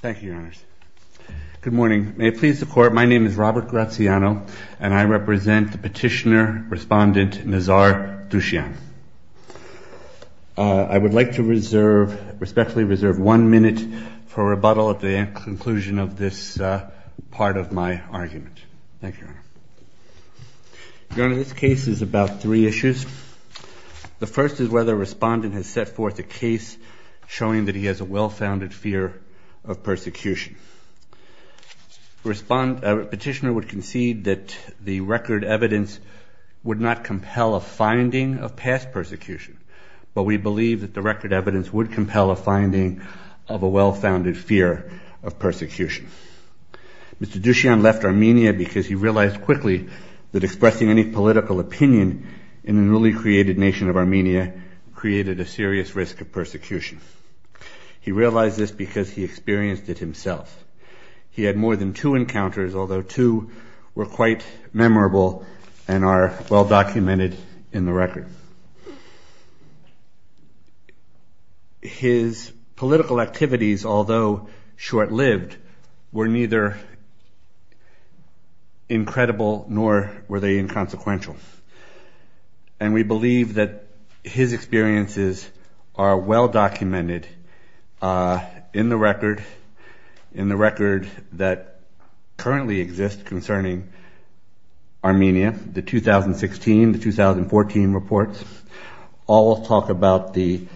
Thank you, Your Honors. Good morning. May it please the Court, my name is Robert Graziano, and I represent the Petitioner-Respondent Nazar Duzchyan. I would like to respectfully reserve one minute for rebuttal at the conclusion of this part of my argument. Thank you, Your Honor. Your Honor, this case is about three issues. The first is whether a respondent has set forth a case showing that he has a well-founded fear of persecution. A petitioner would concede that the record evidence would not compel a finding of past persecution, but we believe that the record evidence would compel a finding of a well-founded fear of persecution. Mr. Duzchyan left Armenia because he realized quickly that expressing any political opinion in a newly created nation of Armenia created a serious risk of persecution. He realized this because he experienced it himself. He had more than two encounters, although two were quite memorable and are well-documented in the record. His political activities, although short-lived, were neither incredible nor were they inconsequential. And we believe that his experiences are well-documented in the record that currently exists concerning Armenia. The 2016-2014 reports all talk about the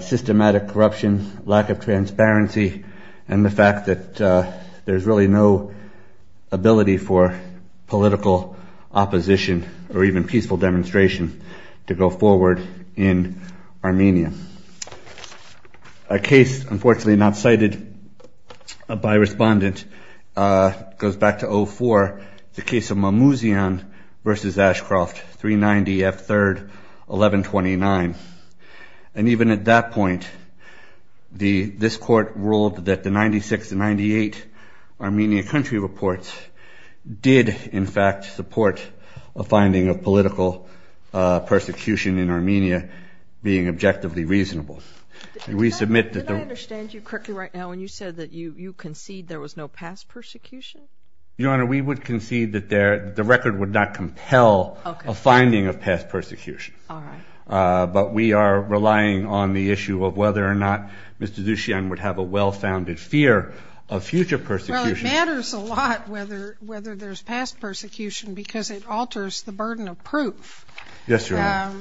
systematic corruption, lack of transparency, and the fact that there's really no ability for political opposition or even peaceful demonstration to go forward in Armenia. A case, unfortunately not cited by a respondent, goes back to 2004, the case of Mamouzian versus Ashcroft, 390 F. 3rd, 1129. And even at that point, this court ruled that the 96-98 Armenia country reports did, in fact, support a finding of political persecution in Armenia being objectively reasonable. Did I understand you correctly right now when you said that you concede there was no past persecution? Your Honor, we would concede that the record would not compel a finding of past persecution. But we are relying on the issue of whether or not Mr. Duzchyan would have a well-founded fear of future persecution. It matters a lot whether there's past persecution because it alters the burden of proof. Yes, Your Honor.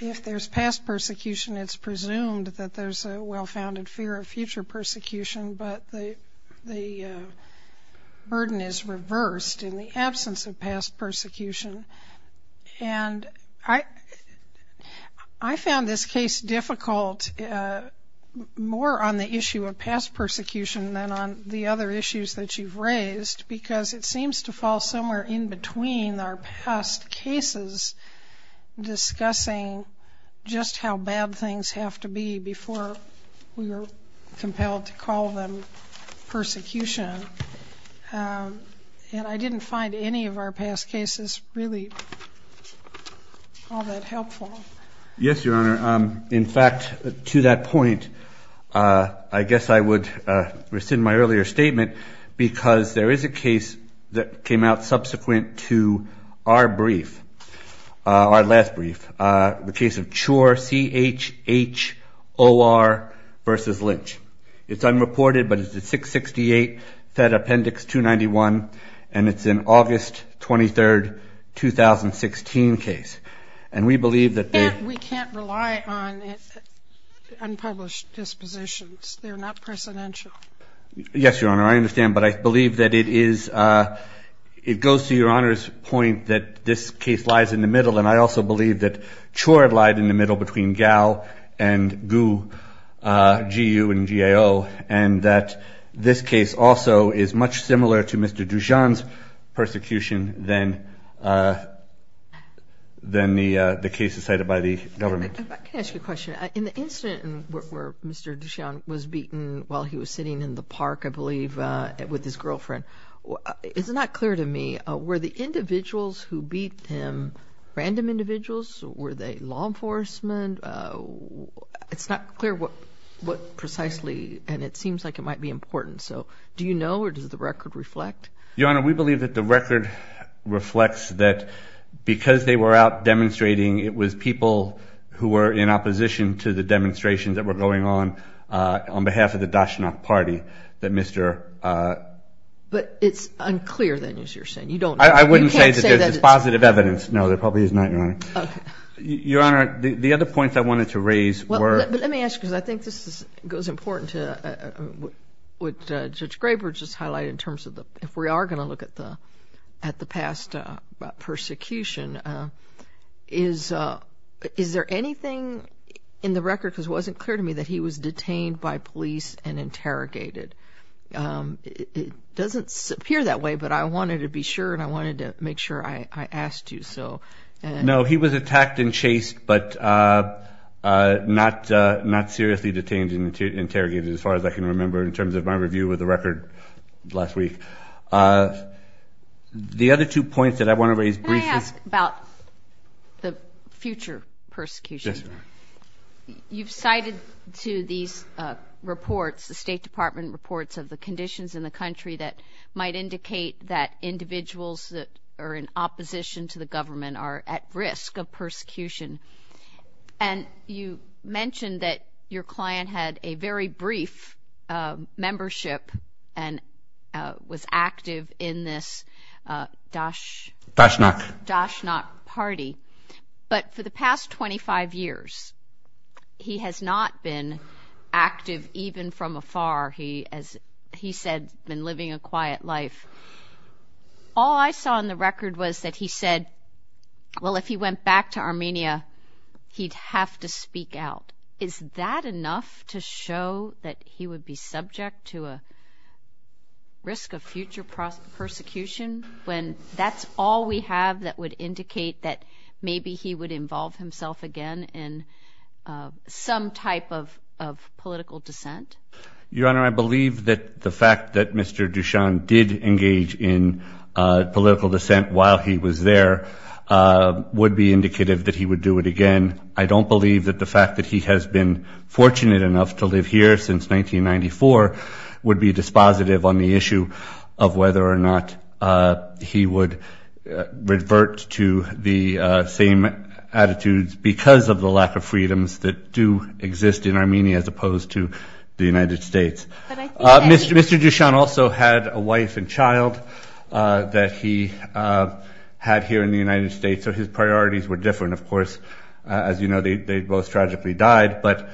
If there's past persecution, it's presumed that there's a well-founded fear of future persecution, but the burden is reversed in the absence of past persecution. And I found this case difficult more on the issue of past persecution than on the other issues that you've raised because it seems to fall somewhere in between our past cases discussing just how bad things have to be before we were compelled to call them persecution. And I didn't find any of our past cases really all that helpful. Yes, Your Honor. In fact, to that point, I guess I would rescind my earlier statement because there is a case that came out subsequent to our brief, our last brief, the case of Chor, C-H-H-O-R v. Lynch. It's unreported, but it's the 668 Fed Appendix 291, and it's an August 23, 2016 case. And we believe that they — We can't rely on unpublished dispositions. They're not precedential. Yes, Your Honor, I understand. But I believe that it is — it goes to Your Honor's point that this case lies in the middle, and I also believe that Chor lied in the middle between Gao and Gu, G-U and G-A-O, and that this case also is much similar to Mr. Duchamp's persecution than the case decided by the government. I can ask you a question. In the incident where Mr. Duchamp was beaten while he was sitting in the park, I believe, with his girlfriend, it's not clear to me, were the individuals who beat him random individuals? Were they law enforcement? It's not clear what precisely, and it seems like it might be important. So do you know, or does the record reflect? Your Honor, we believe that the record reflects that because they were out demonstrating, it was people who were in opposition to the demonstrations that were going on, on behalf of the Dachshund Party, that Mr. — But it's unclear, then, as you're saying. You don't know. I wouldn't say that there's positive evidence. No, there probably is not, Your Honor. Your Honor, the other points I wanted to raise were — Well, let me ask, because I think this goes important to what Judge Graber just highlighted in terms of the — if we are going to look at the past persecution, is there anything in the record, because it wasn't clear to me that he was detained by police and interrogated. It doesn't appear that way, but I wanted to be sure, and I wanted to make sure I asked you, so — No, he was attacked and chased, but not seriously detained and interrogated, as far as I can remember, in terms of my review of the record last week. The other two points that I want to raise briefly — The future persecution. Yes, Your Honor. You've cited to these reports, the State Department reports of the conditions in the country, that might indicate that individuals that are in opposition to the government are at risk of persecution. And you mentioned that your client had a very brief membership and was active in this Dashnak party. But for the past 25 years, he has not been active even from afar. He, as he said, has been living a quiet life. All I saw in the record was that he said, well, if he went back to Armenia, he'd have to speak out. Is that enough to show that he would be subject to a risk of future persecution, when that's all we have that would indicate that maybe he would involve himself again in some type of political dissent? Your Honor, I believe that the fact that Mr. Dashan did engage in political dissent while he was there would be indicative that he would do it again. I don't believe that the fact that he has been fortunate enough to live here since 1994 would be dispositive on the issue of whether or not he would revert to the same attitudes because of the lack of freedoms that do exist in Armenia as opposed to the United States. Mr. Dashan also had a wife and child that he had here in the United States. So his priorities were different, of course. As you know, they both tragically died. But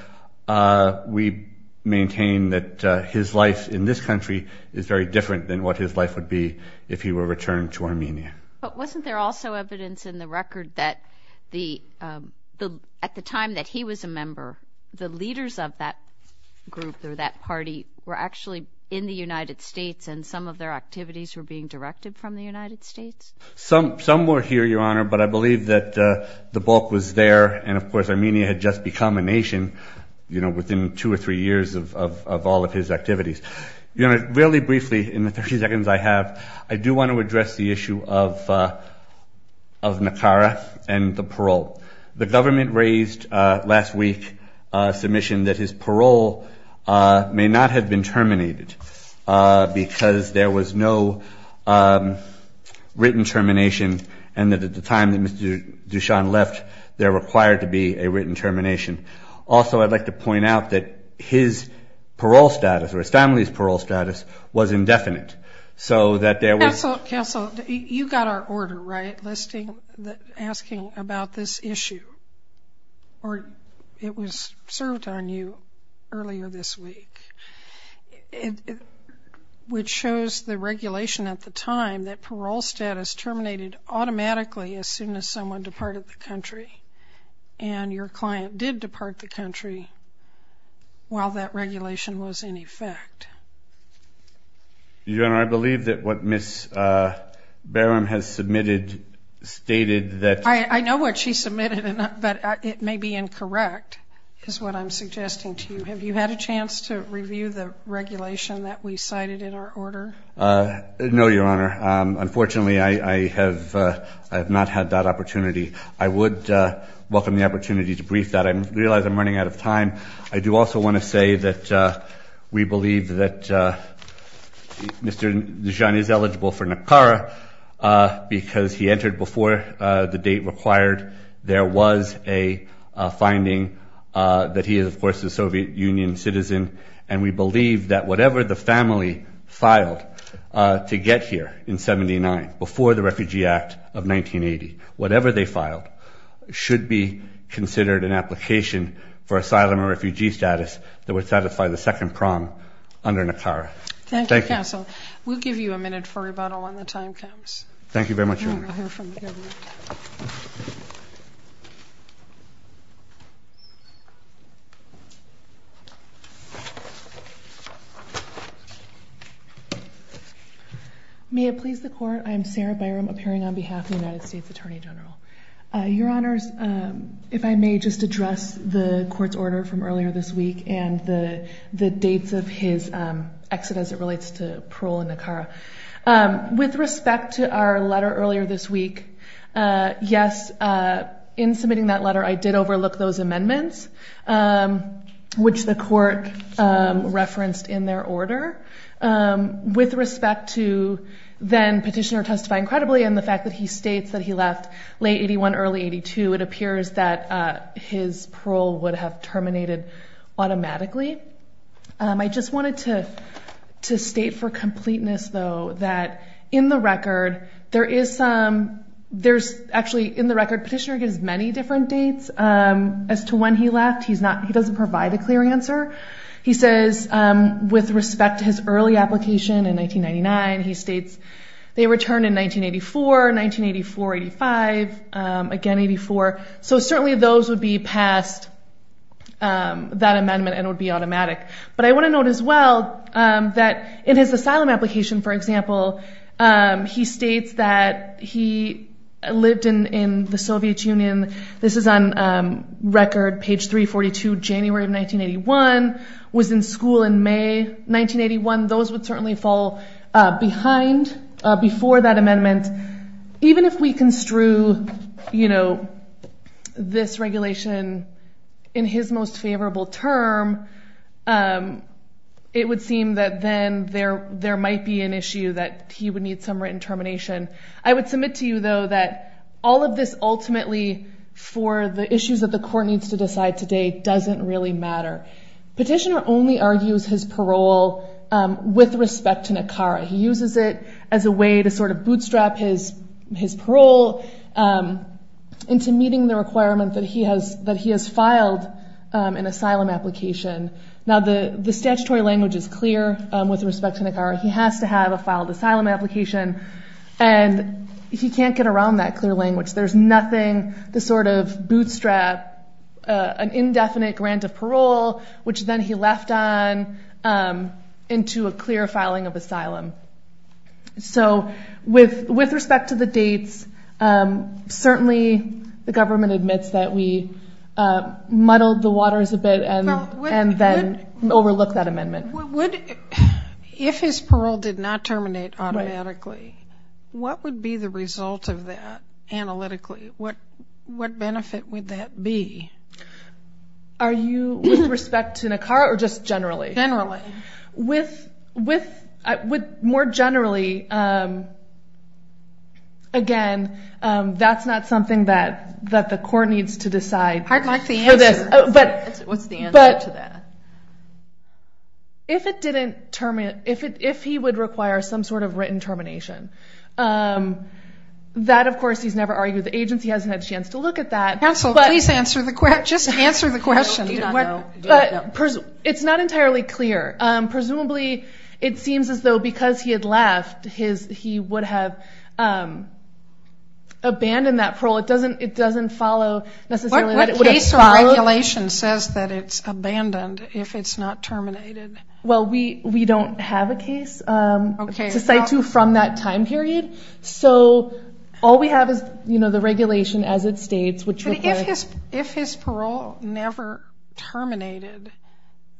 we maintain that his life in this country is very different than what his life would be if he were returned to Armenia. But wasn't there also evidence in the record that at the time that he was a member, the leaders of that group or that party were actually in the United States and some of their activities were being directed from the United States? Some were here, Your Honor, but I believe that the bulk was there. And, of course, Armenia had just become a nation within two or three years of all of his activities. Your Honor, really briefly in the 30 seconds I have, I do want to address the issue of Nakara and the parole. The government raised last week a submission that his parole may not have been terminated because there was no written termination and that at the time that Mr. Dashan left, there required to be a written termination. Also, I'd like to point out that his parole status or his family's parole status was indefinite. Counsel, you got our order, right, asking about this issue. It was served on you earlier this week, which shows the regulation at the time that parole status terminated automatically as soon as someone departed the country and your client did depart the country while that regulation was in effect. Your Honor, I believe that what Ms. Barham has submitted stated that. I know what she submitted, but it may be incorrect is what I'm suggesting to you. Have you had a chance to review the regulation that we cited in our order? No, Your Honor. Unfortunately, I have not had that opportunity. I would welcome the opportunity to brief that. I realize I'm running out of time. I do also want to say that we believe that Mr. Dashan is eligible for Nakara because he entered before the date required. There was a finding that he is, of course, a Soviet Union citizen, and we believe that whatever the family filed to get here in 79, before the Refugee Act of 1980, whatever they filed should be considered an application for asylum and refugee status that would satisfy the second prong under Nakara. Thank you. Thank you, counsel. We'll give you a minute for rebuttal when the time comes. Thank you very much, Your Honor. May it please the Court, I'm Sarah Byram, appearing on behalf of the United States Attorney General. Your Honors, if I may just address the Court's order from earlier this week and the dates of his exit as it relates to parole and Nakara. With respect to our letter earlier this week, yes, in submitting that letter, I did overlook those amendments, which the Court referenced in their order. With respect to then Petitioner testifying credibly and the fact that he states that he left late 81, early 82, it appears that his parole would have terminated automatically. I just wanted to state for completeness, though, that in the record there is some, there's actually in the record Petitioner gives many different dates as to when he left. He doesn't provide a clear answer. He says with respect to his early application in 1999, he states they returned in 1984, 1984-85, again 84. So certainly those would be past that amendment and would be automatic. But I want to note as well that in his asylum application, for example, he states that he lived in the Soviet Union. This is on record page 342, January of 1981, was in school in May 1981. Those would certainly fall behind before that amendment. Even if we construe this regulation in his most favorable term, it would seem that then there might be an issue that he would need some written termination. I would submit to you, though, that all of this ultimately for the issues that the court needs to decide today doesn't really matter. Petitioner only argues his parole with respect to NACARA. He uses it as a way to sort of bootstrap his parole into meeting the requirement that he has filed an asylum application. Now the statutory language is clear with respect to NACARA. He has to have a filed asylum application, and he can't get around that clear language. There's nothing to sort of bootstrap an indefinite grant of parole, which then he left on into a clear filing of asylum. So with respect to the dates, certainly the government admits that we muddled the waters a bit and then overlooked that amendment. If his parole did not terminate automatically, what would be the result of that analytically? What benefit would that be? With respect to NACARA or just generally? Generally. More generally, again, that's not something that the court needs to decide. I'd like the answer. What's the answer to that? If he would require some sort of written termination, that, of course, he's never argued. The agency hasn't had a chance to look at that. Counsel, just answer the question. It's not entirely clear. Presumably it seems as though because he had left, he would have abandoned that parole. It doesn't follow necessarily that it would have followed. What case or regulation says that it's abandoned if it's not terminated? Well, we don't have a case to cite to from that time period. So all we have is, you know, the regulation as it states. If his parole never terminated,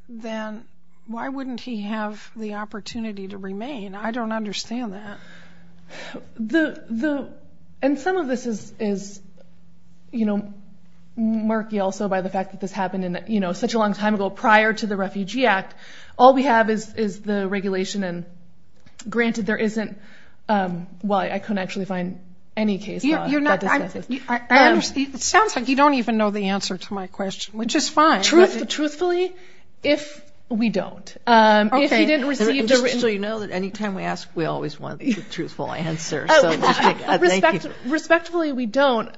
then why wouldn't he have the opportunity to remain? I don't understand that. And some of this is, you know, murky also by the fact that this happened, you know, such a long time ago prior to the Refugee Act. All we have is the regulation. Granted, there isn't why I couldn't actually find any case that does that. It sounds like you don't even know the answer to my question, which is fine. Truthfully, if we don't. So you know that any time we ask, we always want the truthful answer. Respectfully, we don't.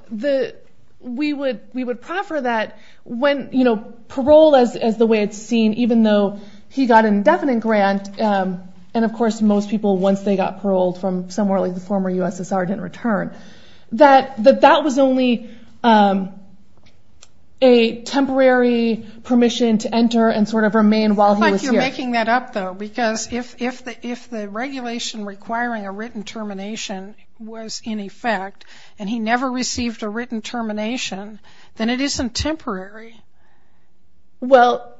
We would proffer that when, you know, parole as the way it's seen, even though he got an indefinite grant, and of course most people once they got paroled from somewhere like the former USSR didn't return, that that was only a temporary permission to enter and sort of remain while he was here. I'm making that up, though, because if the regulation requiring a written termination was in effect and he never received a written termination, then it isn't temporary. Well,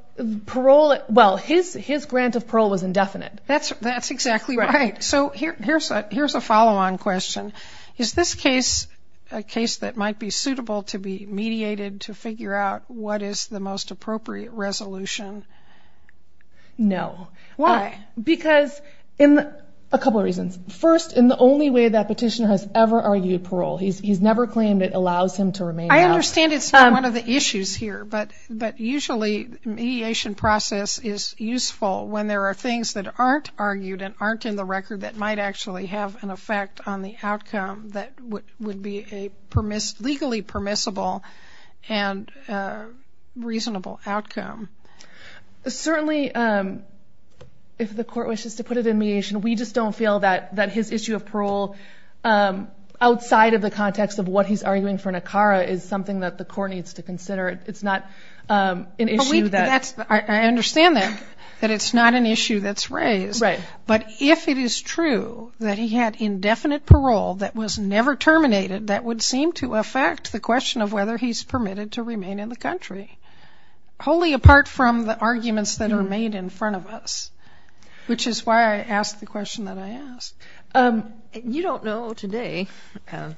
parole, well, his grant of parole was indefinite. That's exactly right. So here's a follow-on question. Is this case a case that might be suitable to be mediated to figure out what is the most appropriate resolution? No. Why? Because in a couple of reasons. First, in the only way that petitioner has ever argued parole. He's never claimed it allows him to remain. I understand it's not one of the issues here, but usually mediation process is useful when there are things that aren't argued and aren't in the record that might actually have an effect on the outcome that would be a legally permissible and reasonable outcome. Certainly, if the court wishes to put it in mediation, we just don't feel that his issue of parole, outside of the context of what he's arguing for an ACARA, is something that the court needs to consider. It's not an issue that we do. But if it is true that he had indefinite parole that was never terminated, that would seem to affect the question of whether he's permitted to remain in the country, wholly apart from the arguments that are made in front of us, which is why I asked the question that I asked. You don't know today,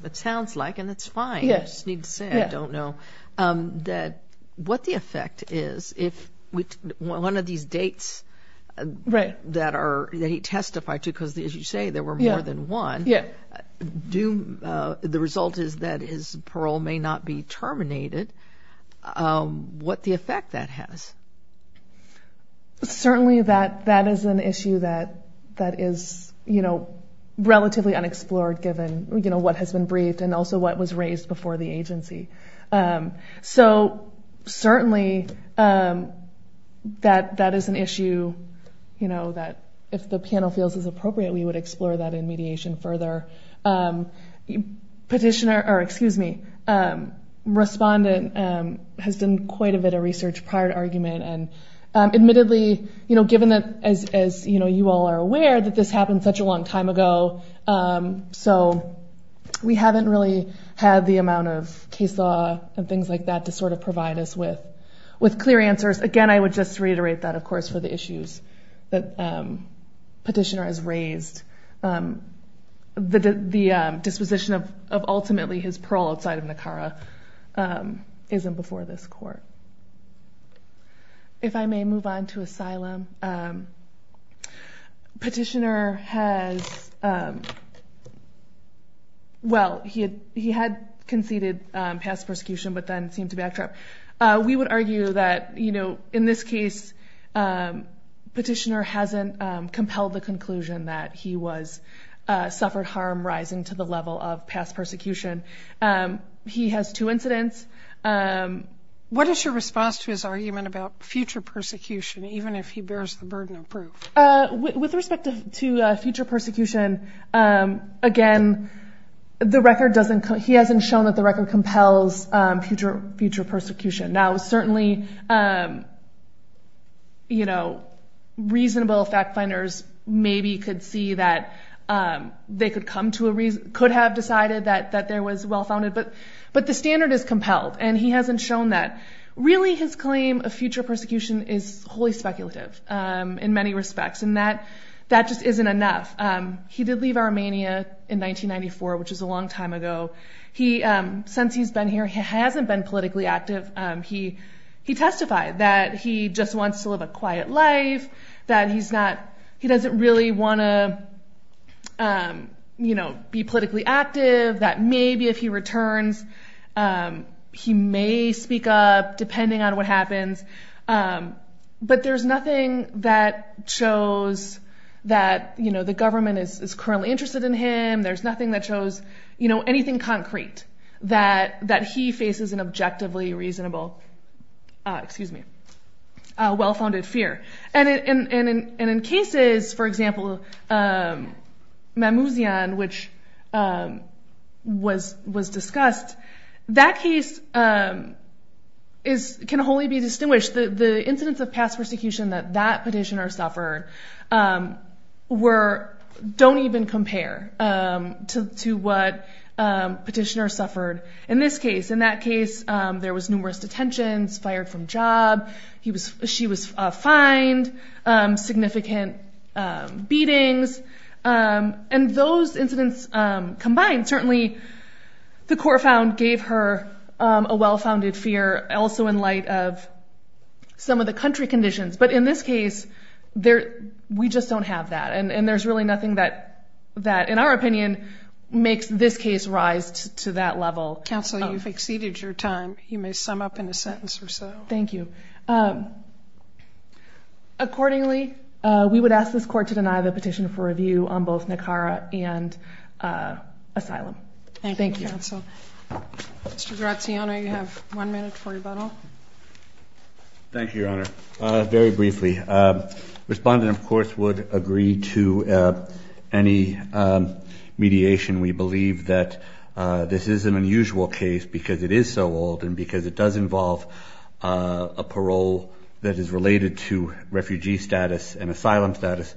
it sounds like, and it's fine, I just need to say I don't know, that what the effect is if one of these dates that he testified to, because, as you say, there were more than one, the result is that his parole may not be terminated, what the effect that has? Certainly that is an issue that is relatively unexplored, given what has been briefed and also what was raised before the agency. So certainly that is an issue that if the panel feels is appropriate, we would explore that in mediation further. Respondent has done quite a bit of research prior to argument, and admittedly, given that, as you all are aware, that this happened such a long time ago, so we haven't really had the amount of case law and things like that to sort of provide us with clear answers. Again, I would just reiterate that, of course, for the issues that Petitioner has raised. The disposition of ultimately his parole outside of NACARA isn't before this Court. If I may move on to asylum. Petitioner has, well, he had conceded past persecution but then seemed to backtrack. We would argue that, in this case, Petitioner hasn't compelled the conclusion that he suffered harm rising to the level of past persecution. He has two incidents. What is your response to his argument about future persecution, even if he bears the burden of proof? With respect to future persecution, again, he hasn't shown that the record compels future persecution. Now, certainly, you know, reasonable fact-finders maybe could see that they could have decided that there was well-founded, but the standard is compelled, and he hasn't shown that. Really, his claim of future persecution is wholly speculative in many respects, and that just isn't enough. He did leave Armenia in 1994, which is a long time ago. Since he's been here, he hasn't been politically active. He testified that he just wants to live a quiet life, that he doesn't really want to be politically active, that maybe if he returns, he may speak up, depending on what happens. But there's nothing that shows that the government is currently interested in him. There's nothing that shows anything concrete that he faces an objectively reasonable, well-founded fear. In cases, for example, Mamouzian, which was discussed, that case can wholly be distinguished. The incidents of past persecution that that petitioner suffered don't even compare to what petitioner suffered in this case. In that case, there was numerous detentions, fired from job, she was fined, significant beatings, and those incidents combined, certainly the core found gave her a well-founded fear also in light of some of the country conditions. But in this case, we just don't have that, and there's really nothing that, in our opinion, makes this case rise to that level. Counsel, you've exceeded your time. You may sum up in a sentence or so. Thank you. Accordingly, we would ask this court to deny the petition for review on both Nicara and asylum. Thank you, counsel. Mr. Graziano, you have one minute for rebuttal. Thank you, Your Honor. Very briefly, the respondent, of course, would agree to any mediation. We believe that this is an unusual case because it is so old and because it does involve a parole that is related to refugee status and asylum status.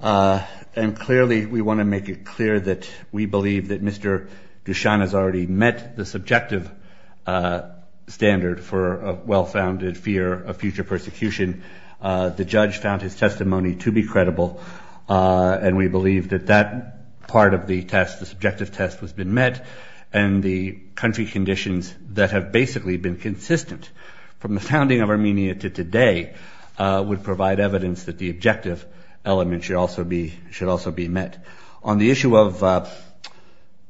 And clearly, we want to make it clear that we believe that Mr. Dushan has already met the subjective standard for a well-founded fear of future persecution. The judge found his testimony to be credible, and we believe that that part of the test, the subjective test, has been met, and the country conditions that have basically been consistent from the founding of Armenia to today would provide evidence that the objective element should also be met. On the issue of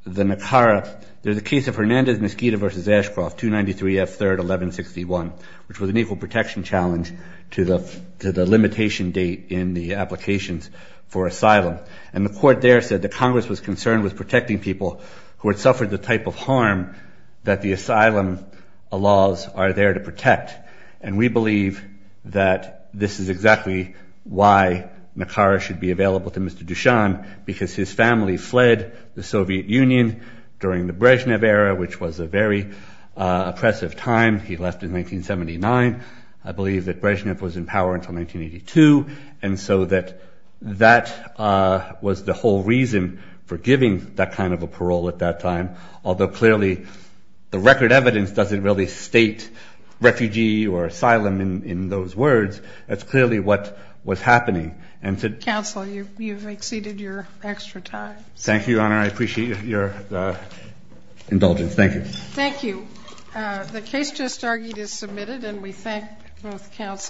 the Nicara, there's a case of Hernandez-Mosquito versus Ashcroft, 293 F. 3rd, 1161, which was an equal protection challenge to the limitation date in the applications for asylum. And the court there said that Congress was concerned with protecting people who had suffered the type of harm that the asylum laws are there to protect. And we believe that this is exactly why Nicara should be available to Mr. Dushan because his family fled the Soviet Union during the Brezhnev era, which was a very oppressive time. He left in 1979. I believe that Brezhnev was in power until 1982. And so that was the whole reason for giving that kind of a parole at that time, although clearly the record evidence doesn't really state refugee or asylum in those words. That's clearly what was happening. Counsel, you've exceeded your extra time. Thank you, Your Honor. I appreciate your indulgence. Thank you. Thank you. The case just argued is submitted, and we thank both counsel.